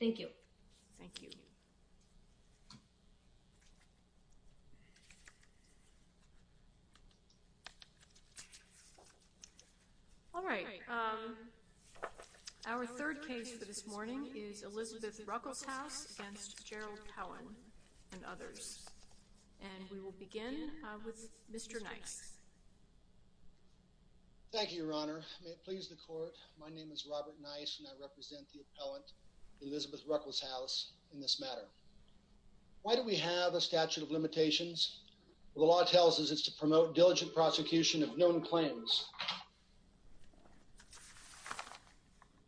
Thank you. Thank you. All right. Our third case for this morning is Elizabeth Ruckelshaus v. Gerald Cowan and others. And we will begin with Mr. Nice. May it please the Court. My name is Robert Nice and I represent the appellant Elizabeth Ruckelshaus in this matter. Why do we have a statute of limitations? The law tells us it's to promote diligent prosecution of known claims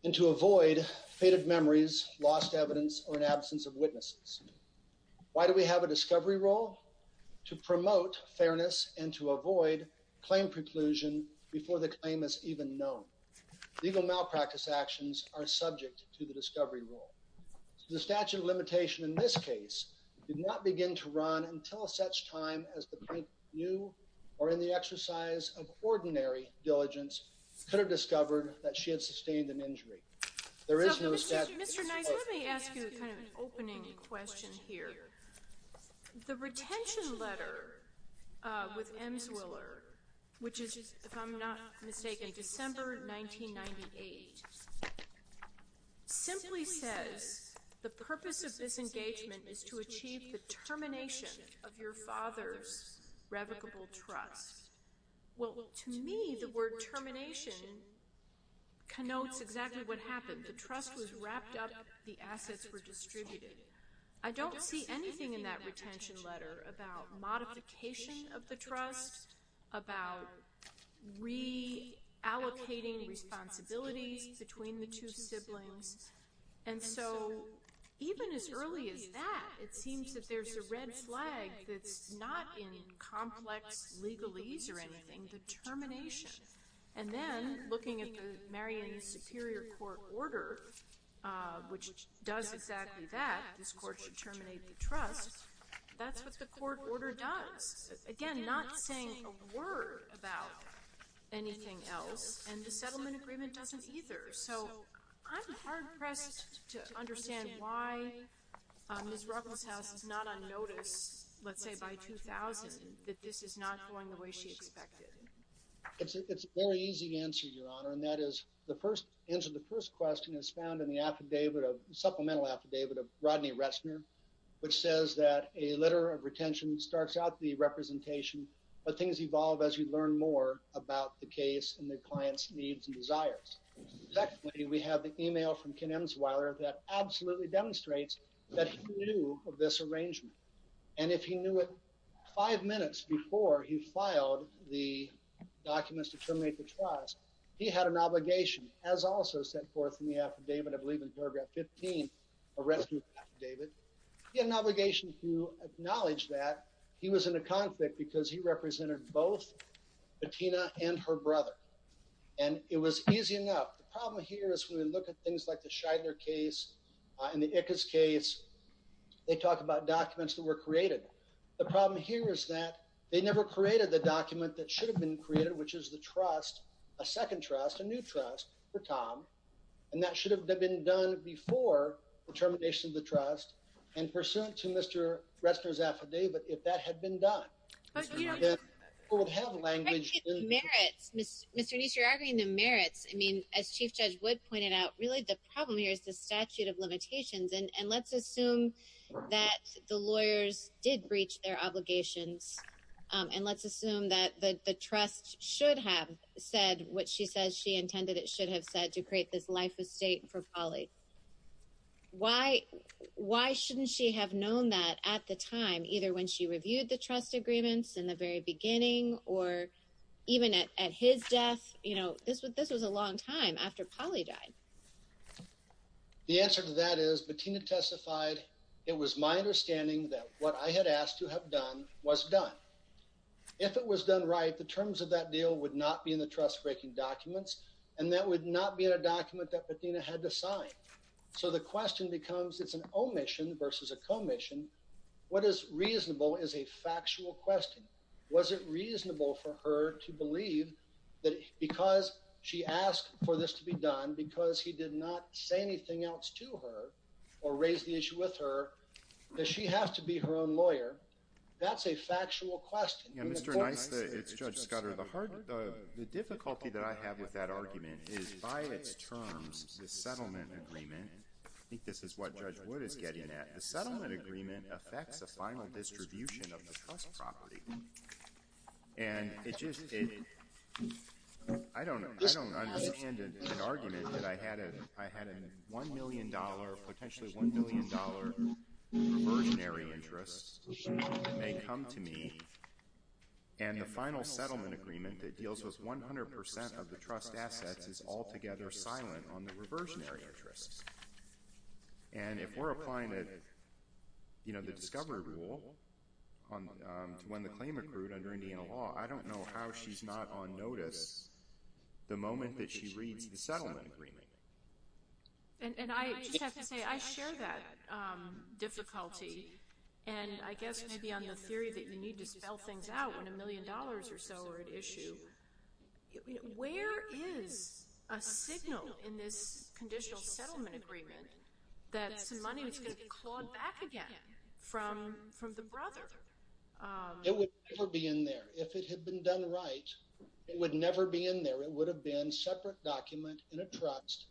and to avoid faded memories, lost evidence, or an absence of witnesses. Why do we have a discovery rule? To promote fairness and to avoid claim preclusion before the claim is even known. Legal malpractice actions are subject to the discovery rule. The statute of limitation in this case did not begin to run until such time as the plaintiff knew or in the exercise of ordinary diligence could have discovered that she had sustained an injury. There is no statute of limitations. Mr. Nice, let me ask you kind of an opening question here. The retention letter with Emswiller, which is, if I'm not mistaken, December 1998, simply says the purpose of this engagement is to achieve the termination of your father's revocable trust. Well, to me, the word termination connotes exactly what happened. The trust was wrapped up, the assets were distributed. I don't see anything in that retention letter about modification of the trust about reallocating responsibilities between the two siblings. And so even as early as that, it seems that there's a red flag that's not in complex legalese or anything, the termination. And then looking at the Marion Superior Court order, which does exactly that, this court should terminate the trust, that's what the court order does. Again, not saying a word about anything else, and the settlement agreement doesn't either. So I'm hard-pressed to understand why Ms. Ruckelshaus is not on notice, let's say by 2000, that this is not going the way she expected. It's a very easy answer, Your Honor, and that is the first answer, the first question is found in the affidavit of, supplemental affidavit of Rodney Ressner, which says that a letter of retention starts out the representation, but things evolve as you learn more about the case and the client's needs and desires. Secondly, we have the email from Ken Emsweiler that absolutely demonstrates that he knew of this arrangement. And if he knew it five minutes before he filed the documents to terminate the trust, he had an obligation, as also set forth in the affidavit, I believe in paragraph 15, a rescue affidavit, he had an obligation to acknowledge that he was in a conflict because he represented both Bettina and her brother. And it was easy enough. The problem here is when we look at things like the Scheidler case and the Ickes case, they talk about documents that were created. The problem here is that they never created the document that should have been created, which is the trust, a second trust, a new trust for Tom, and that should have been done before the termination of the trust and pursuant to Mr. Ressner's affidavit. If that had been done, people would have language. Mr. Neese, you're arguing the merits. I mean, as Chief Judge Wood pointed out, really the problem here is the statute of limitations, and let's assume that the lawyers did breach their obligations and let's assume that the trust should have said what she says she intended it should have said to create this life estate for Polly. Why shouldn't she have known that at the time, either when she reviewed the trust agreements in the very beginning or even at his death? You know, this was a long time after Polly died. The answer to that is, Bettina testified, it was my understanding that what I had asked to have done was done. If it was done right, the terms of that deal would not be in the trust-breaking documents, and that would not be in a document that Bettina had to sign. So the question becomes it's an omission versus a commission. What is reasonable is a factual question. Was it reasonable for her to believe that because she asked for this to be done, because he did not say anything else to her or raise the issue with her, that she has to be her own lawyer? That's a factual question. Mr. Nisla, it's Judge Scudder. The difficulty that I have with that argument is, by its terms, the settlement agreement, I think this is what Judge Wood is getting at, the settlement agreement affects a final distribution of the trust property. And it just, I don't understand an argument that I had a $1 million, potentially $1 billion reversionary interest that may come to me, and the final settlement agreement that deals with 100% of the trust assets is altogether silent on the reversionary interest. And if we're applying the discovery rule to when the claim accrued under Indiana law, I don't know how she's not on notice the moment that she reads the settlement agreement. And I just have to say, I share that difficulty. And I guess maybe on the theory that you need to spell things out when $1 million or so are at issue, where is a signal in this conditional settlement agreement that some money was going to be clawed back again from the brother? It would never be in there. If it had been done right, it would never be in there. It would have been a separate document in a trust,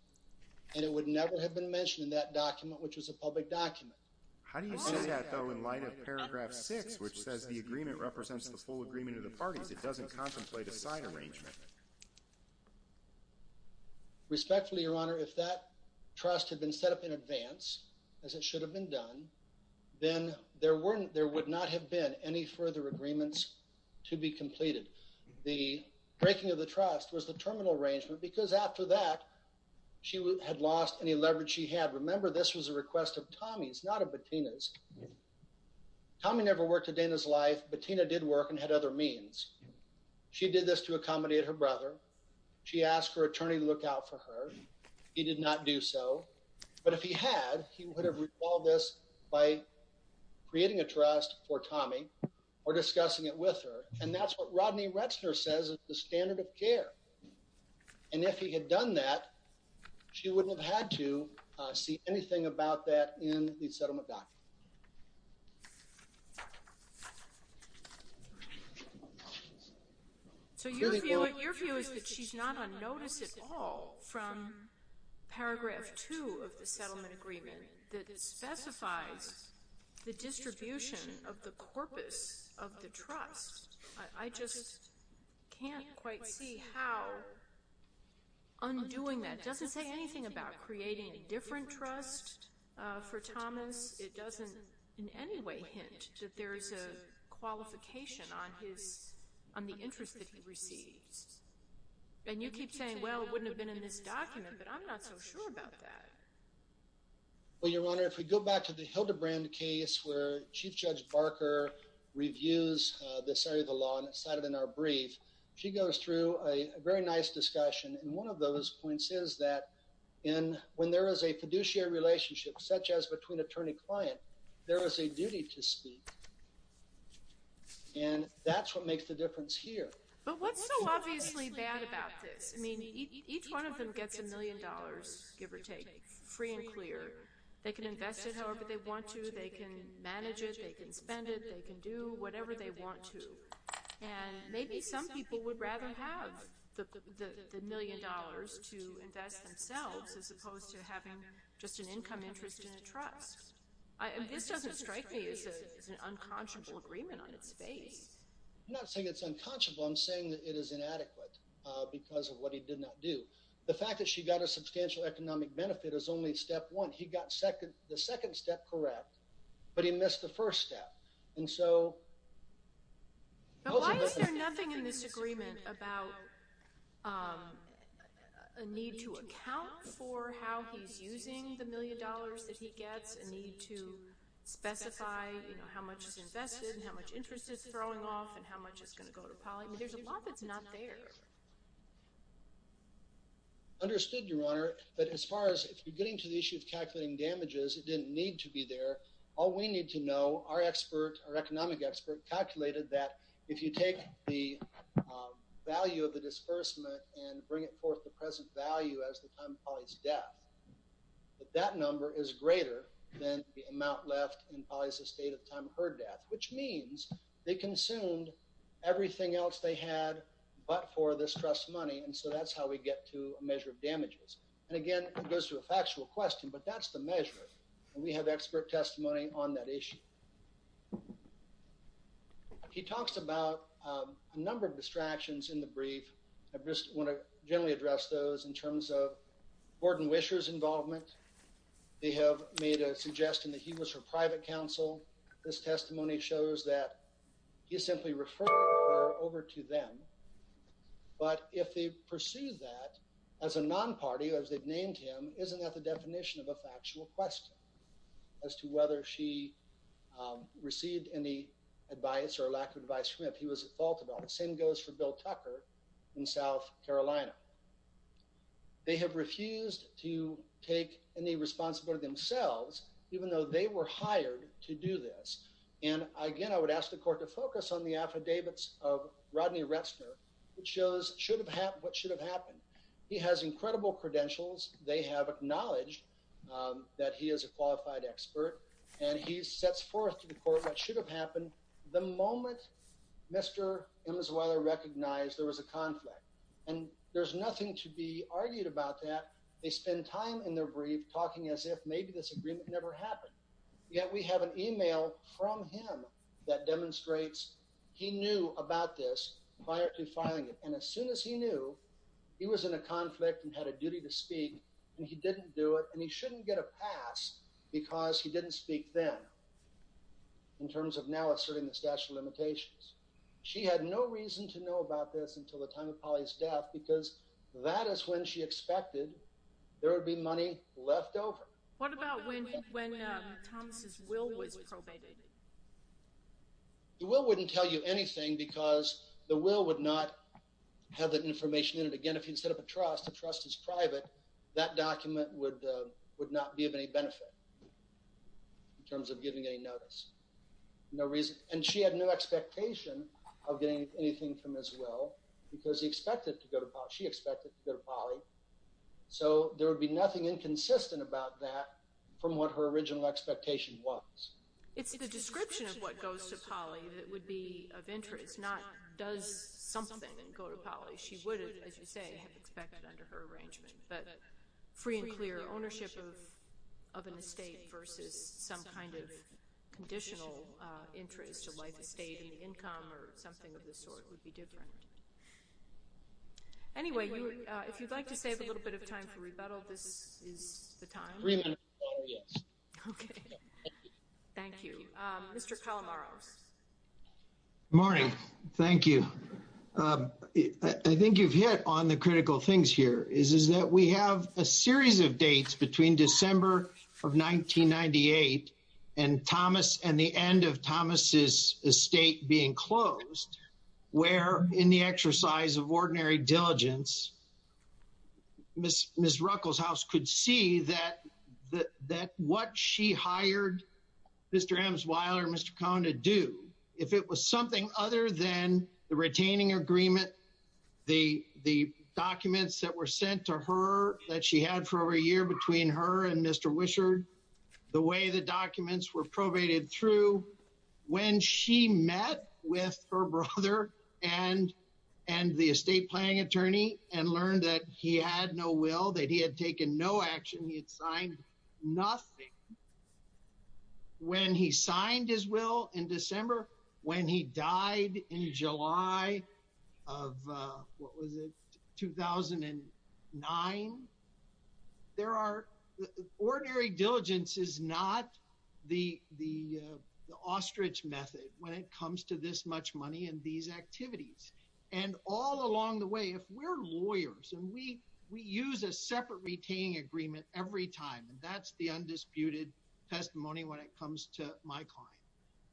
and it would never have been mentioned in that document, which was a public document. How do you say that, though, in light of Paragraph 6, which says the agreement represents the full agreement of the parties? It doesn't contemplate a side arrangement. Respectfully, Your Honor, if that trust had been set up in advance, as it should have been done, then there would not have been any further agreements to be completed. The breaking of the trust was the terminal arrangement, because after that, she had lost any leverage she had. Remember, this was a request of Tommy's, not of Bettina's. Tommy never worked a day in his life. Bettina did work and had other means. She did this to accommodate her brother. She asked her attorney to look out for her. He did not do so. But if he had, he would have recalled this by creating a trust for Tommy or discussing it with her. And that's what Rodney Retzner says is the standard of care. And if he had done that, she wouldn't have had to see anything about that in the settlement document. So your view is that she's not on notice at all from Paragraph 2 of the settlement agreement that specifies the distribution of the I just can't quite see how undoing that doesn't say anything about creating a different trust for Thomas. It doesn't in any way hint that there's a qualification on his, on the interest that he receives. And you keep saying, well, it wouldn't have been in this document, but I'm not so sure about that. Well, your Honor, if we go back to the Hildebrand case where chief judge Barker reviews this area of the law and cited in our brief, she goes through a very nice discussion. And one of those points is that in, when there is a fiduciary relationship, such as between attorney client, there is a duty to speak. And that's what makes the difference here. But what's so obviously bad about this? I mean, each one of them gets a million dollars, give or take free and clear. They can invest it however they want to. They can manage it. They can spend it. They can do whatever they want to. And maybe some people would rather have the million dollars to invest themselves as opposed to having just an income interest in a trust. This doesn't strike me as an unconscionable agreement on its face. I'm not saying it's unconscionable. I'm saying that it is inadequate because of what he did not do. The fact that she got a substantial economic benefit is only step one. He got the second step correct, but he missed the first step. And so. But why is there nothing in this agreement about a need to account for how he's using the million dollars that he gets a need to specify how much is invested and how much interest is throwing off and how much is going to go to Polly. There's a lot that's not there. Understood your honor. But as far as if you're getting to the issue of calculating damages, it didn't need to be there. All we need to know, our expert, our economic expert calculated that if you take the value of the disbursement and bring it forth the present value as the time of Polly's death, that that number is greater than the amount left in Polly's estate at the time of her death, which means they consumed everything else they had, but for this trust money. And so that's how we get to a measure of damages. And again, it goes to a factual question, but that's the measure. And we have expert testimony on that issue. He talks about a number of distractions in the brief. I just want to generally address those in terms of Gordon Wisher's involvement. They have made a suggestion that he was her private counsel. This testimony shows that you simply refer over to them, but if they pursue that as a non-party, as they've named him, isn't that the definition of a factual question as to whether she received any advice or lack of advice from him. He was at fault about the same goes for bill Tucker in South Carolina. They have refused to take any responsibility themselves, even though they were hired to do this. And again, I would ask the court to focus on the affidavits of Rodney Retzner, which shows should have had, what should have happened. He has incredible credentials. They have acknowledged that he is a qualified expert and he's sets forth to the court. What should have happened the moment Mr. Emerson recognized there was a conflict and there's nothing to be argued about that. They spend time in their brief talking as if maybe this agreement never happened yet. We have an email from him that demonstrates he knew about this prior to filing it. And as soon as he knew he was in a conflict and had a duty to speak and he didn't do it. And he shouldn't get a pass because he didn't speak then in terms of now asserting the statute of limitations. She had no reason to know about this until the time of Polly's death, because that is when she expected there would be money left over. What about when, when Thomas's will was probated? The will wouldn't tell you anything because the will would not have that information in it. Again, if you'd set up a trust, the trust is private. That document would, would not be of any benefit in terms of giving any notice. No reason. And she had no expectation of getting anything from as well because he expected to go to Polly. She expected to go to Polly. So there would be nothing inconsistent about that from what her original expectation was. It's the description of what goes to Polly. That would be of interest, not does something go to Polly? She would have, as you say, have expected under her arrangement, but free and clear ownership of, of an estate versus some kind of conditional interest to life estate and income or something of this sort would be different. Anyway, if you'd like to save a little bit of time for rebuttal, this is the time. Okay. Thank you. Mr. Calamaros. Morning. Thank you. I think you've hit on the critical things here is, is that we have a series of dates between December of 1998 and Thomas and the end of Thomas's estate being closed where in the exercise of ordinary diligence, Ms. Ms. Ms. Ruckelshaus could see that, that what she hired Mr. Amesweiler, Mr. Cone to do, if it was something other than the retaining agreement, the, the documents that were sent to her that she had for over a year between her and Mr. Wishard, the way the documents were probated through when she met with her brother and, and the estate planning attorney and learned that he had no will, that he had taken no action. He had signed nothing. When he signed his will in December, when he died in July of what was it? 2009. There are ordinary diligence is not the, the ostrich method when it comes to this much money. And these activities and all along the way, if we're lawyers and we, we use a separate retaining agreement every time, and that's the undisputed testimony when it comes to my client.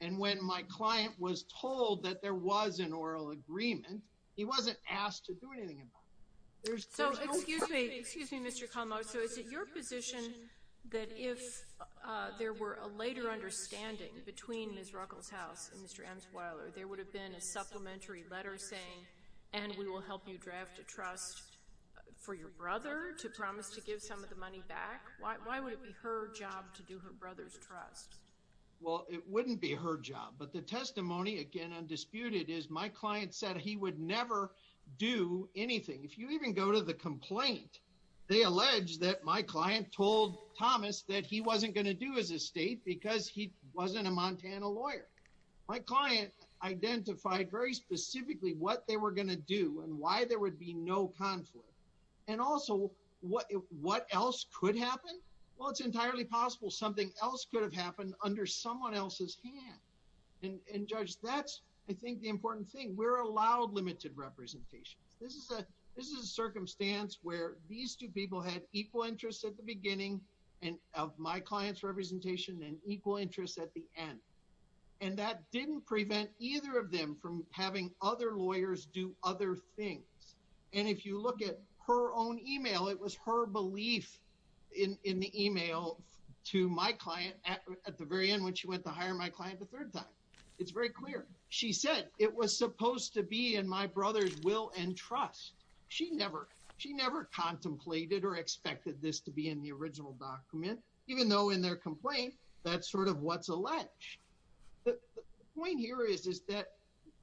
And when my client was told that there was an oral agreement, he wasn't asked to do anything about it. So, excuse me, excuse me, Mr. Como. So is it your position that if there were a later understanding between Ms. Ruckelshaus and Mr. Emsweiler, there would have been a supplementary letter saying, and we will help you draft a trust for your brother to promise, to give some of the money back. Why, why would it be her job to do her brother's trust? Well, it wouldn't be her job, but the testimony again, undisputed is my client said he would never do anything. If you even go to the complaint, they allege that my client told Thomas that he wasn't going to do as a state because he wasn't a Montana lawyer. My client identified very specifically what they were going to do and why there would be no conflict. And also what, what else could happen? Well, it's entirely possible. Something else could have happened under someone else's hand and judge. That's, I think the important thing we're allowed limited representation. This is a, this is a circumstance where these two people had equal interests at the beginning. And of my client's representation and equal interests at the end. And that didn't prevent either of them from having other lawyers do other things. And if you look at her own email, it was her belief in, in the email to my client at the very end, when she went to hire my client, the third time it's very clear, she said it was supposed to be in my brother's will and trust. She never, she never contemplated or expected this to be in the original document, even though in their complaint, that's sort of what's alleged the point here is, is that,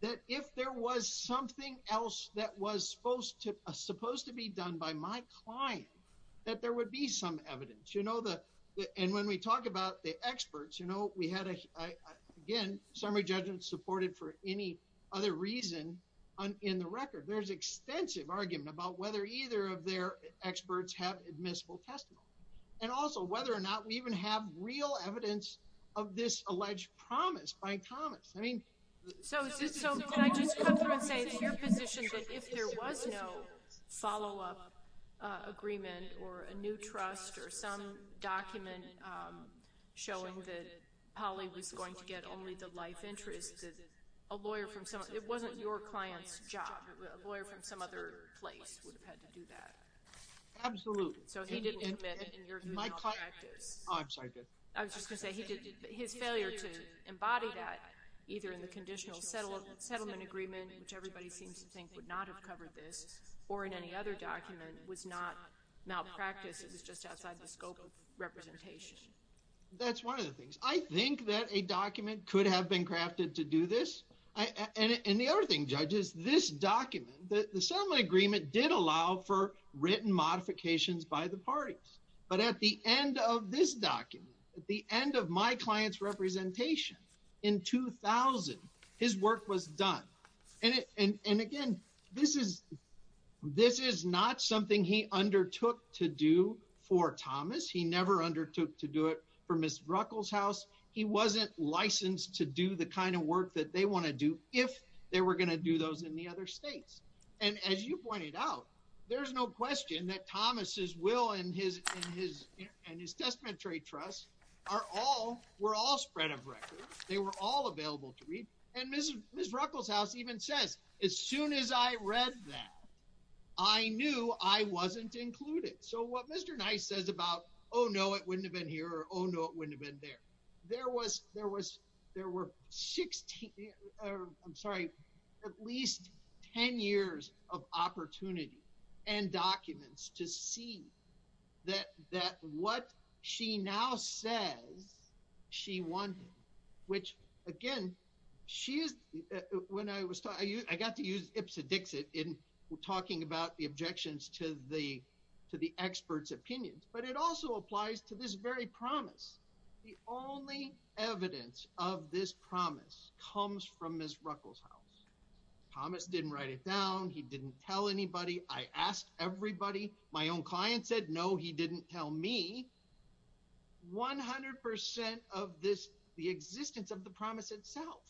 that if there was something else that was supposed to, supposed to be done by my client, that there would be some evidence, you know, the, and when we talk about the experts, you know, we had a, again, summary judgment supported for any other reason in the record, there's extensive argument about whether either of their experts have admissible testimony. And also whether or not we even have real evidence of this alleged promise by Thomas. I mean, So, so can I just come through and say, it's your position that if there was no follow-up agreement or a new trust or some document showing that Holly was going to get only the life interest, a lawyer from someone, it wasn't your client's job. A lawyer from some other place would have had to do that. Absolutely. So he didn't commit in your view malpractice. Oh, I'm sorry. Good. I was just going to say, he did his failure to embody that either in the conditional settlement settlement agreement, which everybody seems to think would not have covered this or in any other document was not malpractice. It was just outside the scope of representation. That's one of the things I think that a document could have been crafted to do this. And the other thing judges, this document that the settlement agreement did allow for written modifications by the parties, but at the end of this document, at the end of my client's representation in 2000, his work was done. And, and, and again, this is, this is not something he undertook to do for Thomas. He never undertook to do it for Ms. Ruckelshaus. He was not licensed to do the kind of work that they want to do. If they were going to do those in the other States. And as you pointed out, there's no question that Thomas's will and his, and his, and his testamentary trust are all we're all spread of record. They were all available to read. And Mrs. Ms. Ruckelshaus even says, as soon as I read that, I knew I wasn't included. So what Mr. Nice says about, Oh no, it wouldn't have been here. Or Oh no, it wouldn't have been there. There was, there was, there were 16. I'm sorry. At least 10 years of opportunity. And documents to see that, that what she now says. She won. Which again, she is. When I was taught, I got to use Ipsa Dixit in talking about the objections to the, to the experts opinions, but it also applies to this very promise. The only evidence of this promise comes from Ms. Ruckelshaus. Thomas didn't write it down. He didn't tell anybody. I asked everybody. My own client said, no, he didn't tell me. 100% of this, the existence of the promise itself.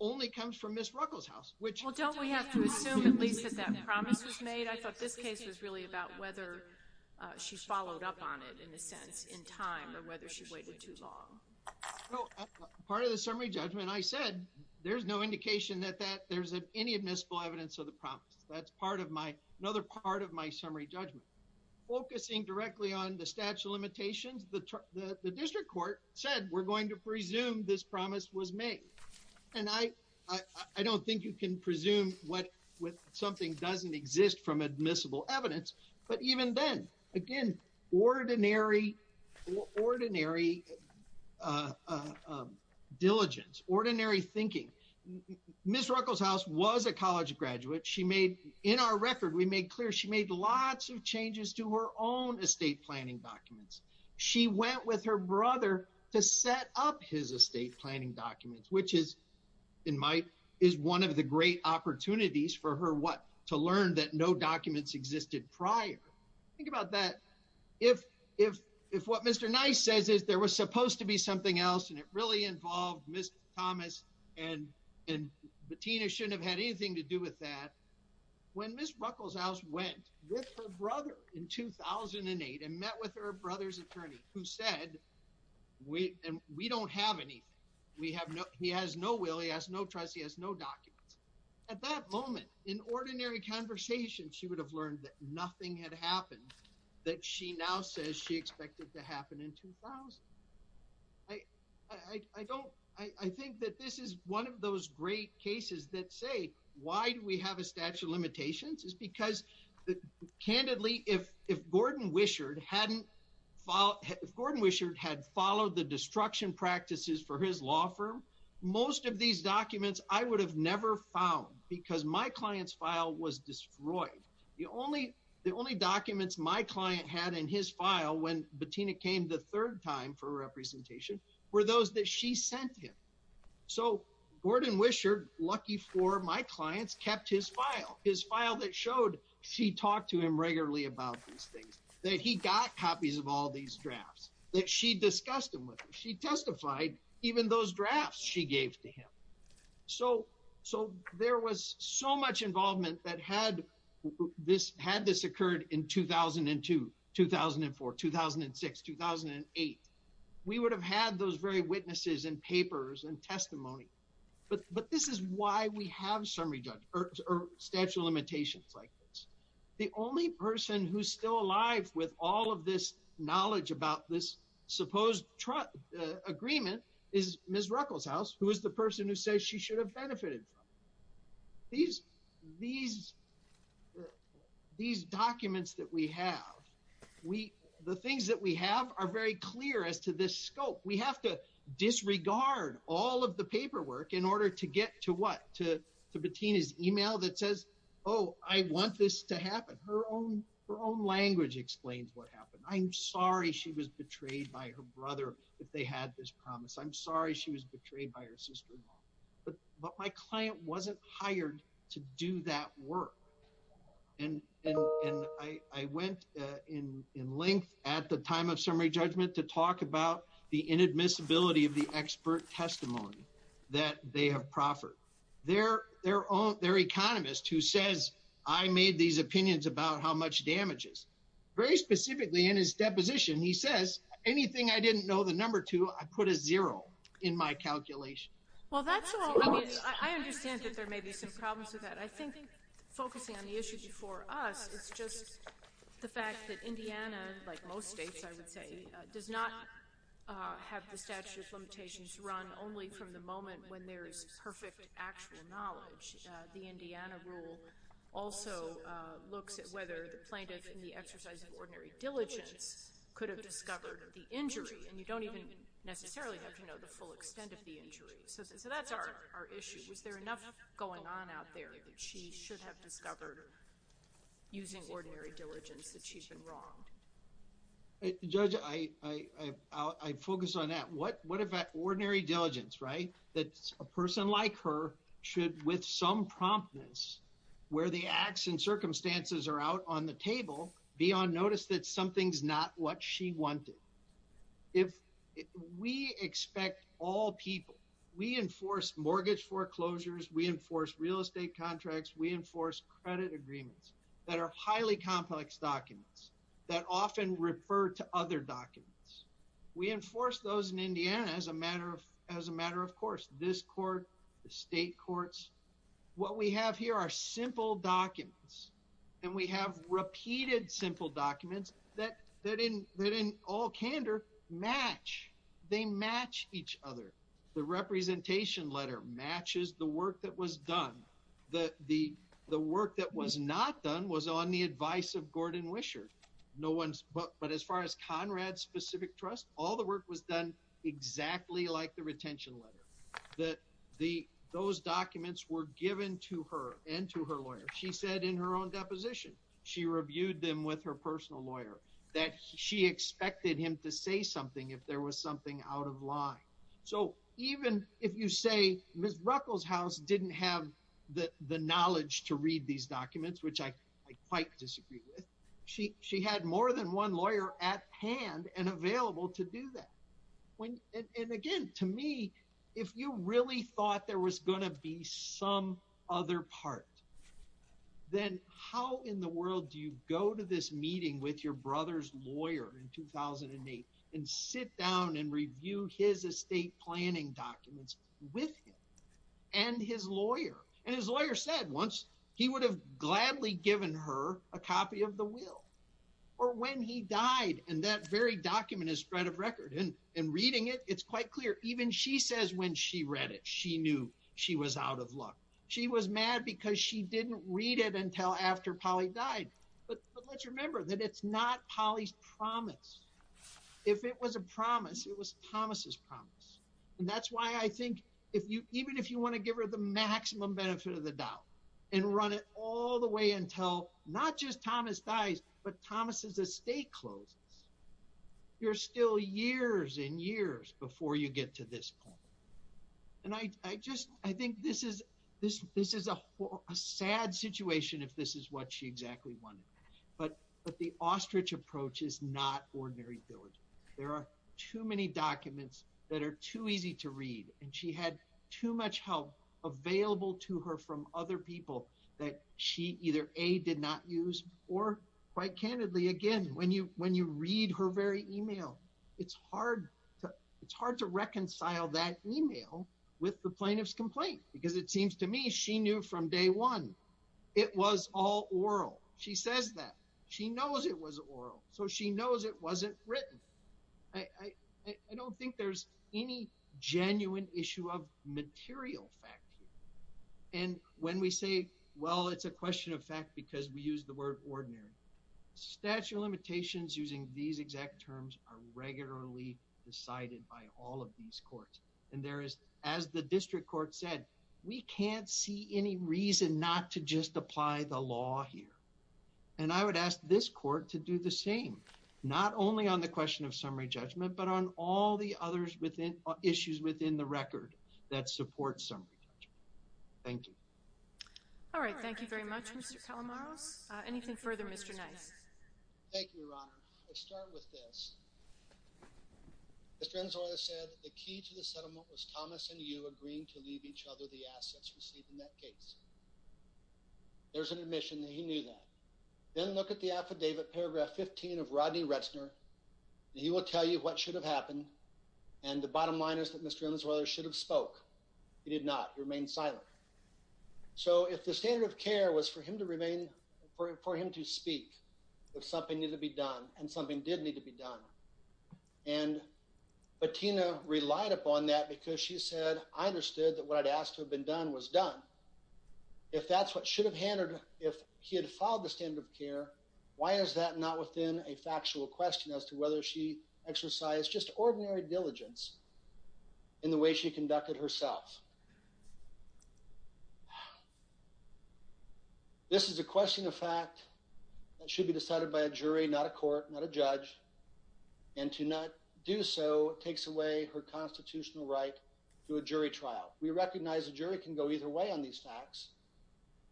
Only comes from Ms. Ruckelshaus, which don't, we have to assume at least that that promise was made. I think I thought this case was really about whether she followed up on it in a sense in time or whether she waited too long. Part of the summary judgment. I said, there's no indication that, that there's any admissible evidence of the promise. That's part of my, another part of my summary judgment. Focusing directly on the statute of limitations, the district court said, we're going to presume this promise was made. And I, I don't think you can presume what, with something doesn't exist from admissible evidence, but even then, again, ordinary. Well, ordinary. Uh, um, diligence, ordinary thinking. Ms. Ruckelshaus was a college graduate. She made in our record. We made clear. She made lots of changes to her own estate planning documents. She went with her brother to set up his estate planning documents, which is. And I think that's. In my, is one of the great opportunities for her. What? To learn that no documents existed prior. Think about that. If, if, if what Mr. Nice says is there was supposed to be something else. And it really involved Mr. Thomas and, and Bettina shouldn't have had anything to do with that. And I think that's a great opportunity for her to learn that. And I think that's a great opportunity for her to learn that. When Ms. Ruckelshaus went. With her brother in 2008 and met with her brother's attorney who said. We don't have any. We have no, he has no will. He has no trust. He has no documents. At that moment in ordinary conversation, she would have learned that nothing had happened. That she now says she expected to happen in 2000. I, I, I don't. I don't know. I don't know. I think that this is one of those great cases that say, why do we have a statute of limitations is because. Candidly, if, if Gordon Wishard hadn't. Follow Gordon Wishard had followed the destruction practices for his law firm. Most of these documents I would have never found because my client's file was destroyed. My client's file was destroyed. My client's file was destroyed. My client's file was destroyed. The only, the only documents my client had in his file, when Bettina came the third time for representation. Were those that she sent him. So Gordon Wishard lucky for my clients kept his file, his file that showed she talked to him regularly about these things. That he got copies of all these drafts that she discussed them with. She testified even those drafts she gave to him. So, so there was so much involvement that had. This had this occurred in 2002, 2004, 2006, 2008. We would have had those very witnesses and papers and testimony. But, but this is why we have summary judge. Or statute of limitations like this, the only person who's still alive with all of this knowledge about this supposed truck agreement is Ms. Ruckelshaus, who is the person who says she should have benefited from. These, these, these documents that we have, we, the things that we have are very clear as to this scope. We have to disregard all of the paperwork in order to get to what to, to between his email that says, Oh, I want this to happen. Her own, her own language explains what happened. I'm sorry she was betrayed by her brother. If they had this promise, I'm sorry, she was betrayed by her sister-in-law. But my client wasn't hired to do that work. And, and I, I went in length at the time of summary judgment to talk about the inadmissibility of the expert testimony that they have proffered. They're their own, their economist who says I made these opinions about how much damage is very specifically in his deposition. He says anything. I didn't know the number two. I put a zero in my calculation. Well, that's all. I understand that there may be some problems with that. I think focusing on the issues before us, it's just the fact that Indiana, like most States, I would say, does not have the statute of limitations run only from the moment when there's perfect actual knowledge. The Indiana rule also looks at whether the plaintiff in the exercise of ordinary diligence could have discovered the injury and you don't even necessarily have to know the full extent of the injury. So, so that's our issue. Was there enough going on out there that she should have discovered using ordinary diligence that she's been wrong? Judge, I, I, I, I focus on that. What, what about ordinary diligence, right? That's a person like her should with some promptness where the acts and circumstances are out on the table, be on notice that something's not what she wanted. If we expect all people, we enforce mortgage foreclosures, we enforce real estate contracts. We enforce credit agreements that are highly complex documents that often refer to other documents. We enforce those in Indiana as a matter of, of course, this court, the state courts, what we have here are simple documents and we have repeated simple documents that, that in, that in all candor match, they match each other. The representation letter matches the work that was done. The, the, the work that was not done was on the advice of Gordon Wisher. No one's, but, but as far as Conrad specific trust, all the work was done exactly like the retention letter that the, those documents were given to her and to her lawyer. She said in her own deposition, she reviewed them with her personal lawyer that she expected him to say something if there was something out of line. So even if you say Ms. Ruckelshaus didn't have the knowledge to read these documents, which I quite disagree with. She, she had more than one lawyer at hand and available to do that. When, and again, to me, if you really thought there was going to be some other part, then how in the world do you go to this meeting with your brother's lawyer in 2008 and sit down and review his estate planning documents with him and his lawyer and his lawyer said once he would have gladly given her a copy of the will or when he died. And that very document is spread of record. And in reading it, it's quite clear. Even she says, when she read it, she knew she was out of luck. She was mad because she didn't read it until after Polly died. But let's remember that it's not Polly's promise. If it was a promise, it was Thomas's promise. And that's why I think if you, even if you want to give her the maximum benefit of the doubt and run it all the way until not just Thomas dies, but Thomas's estate closes, you're still years and years before you get to this point. And I just, I think this is, this, this is a sad situation if this is what she exactly wanted, but, but the ostrich approach is not ordinary village. There are too many documents that are too easy to read. And she had too much help available to her from other people that she either a did not use or quite candidly, again, when you, when you read her very email, it's hard to, it's hard to reconcile that email with the plaintiff's complaint, because it seems to me she knew from day one, it was all oral. She says that she knows it was oral. So she knows it wasn't written. I don't think there's any genuine issue of material fact. And when we say, well, it's a question of fact, because we use the word ordinary statute limitations using these exact terms are regularly decided by all of these courts. And there is, as the district court said, we can't see any reason not to just apply the law here. And I would ask this court to do the same, not only on the question of summary judgment, but on all the others within issues within the record that support summary judgment. Thank you. All right. Thank you very much, Mr. Calamaros. Anything further, Mr. Nice. Thank you, Your Honor. Let's start with this. Mr. Enzo said the key to the settlement was Thomas and you agreeing to leave each other the assets received in that case. There's an admission that he knew that. Then look at the affidavit paragraph 15 of Rodney Retzner. He will tell you what should have happened. And the bottom line is that Mr. Ellis, whether it should have spoke, he did not remain silent. So if the standard of care was for him to remain for him, for him to speak with something needed to be done and something did need to be done. And Bettina relied upon that because she said, I understood that what I'd asked to have been done was done. If that's what should have handed, if he had filed the standard of care, why is that not within a factual question as to whether she exercised just ordinary diligence in the way she conducted herself? This is a question of fact that should be decided by a jury, not a court, not a judge. And to not do so takes away her constitutional right to a jury trial. We recognize a jury can go either way on these facts.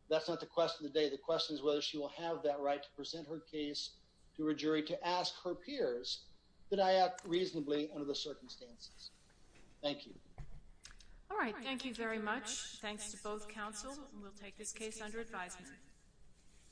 That's not the question of the day. The question is whether she will have that right to present her case to a jury to ask her peers that I act reasonably under the circumstances. Thank you. All right. Thank you very much. Thanks to both counsel. We'll take this case under advisement.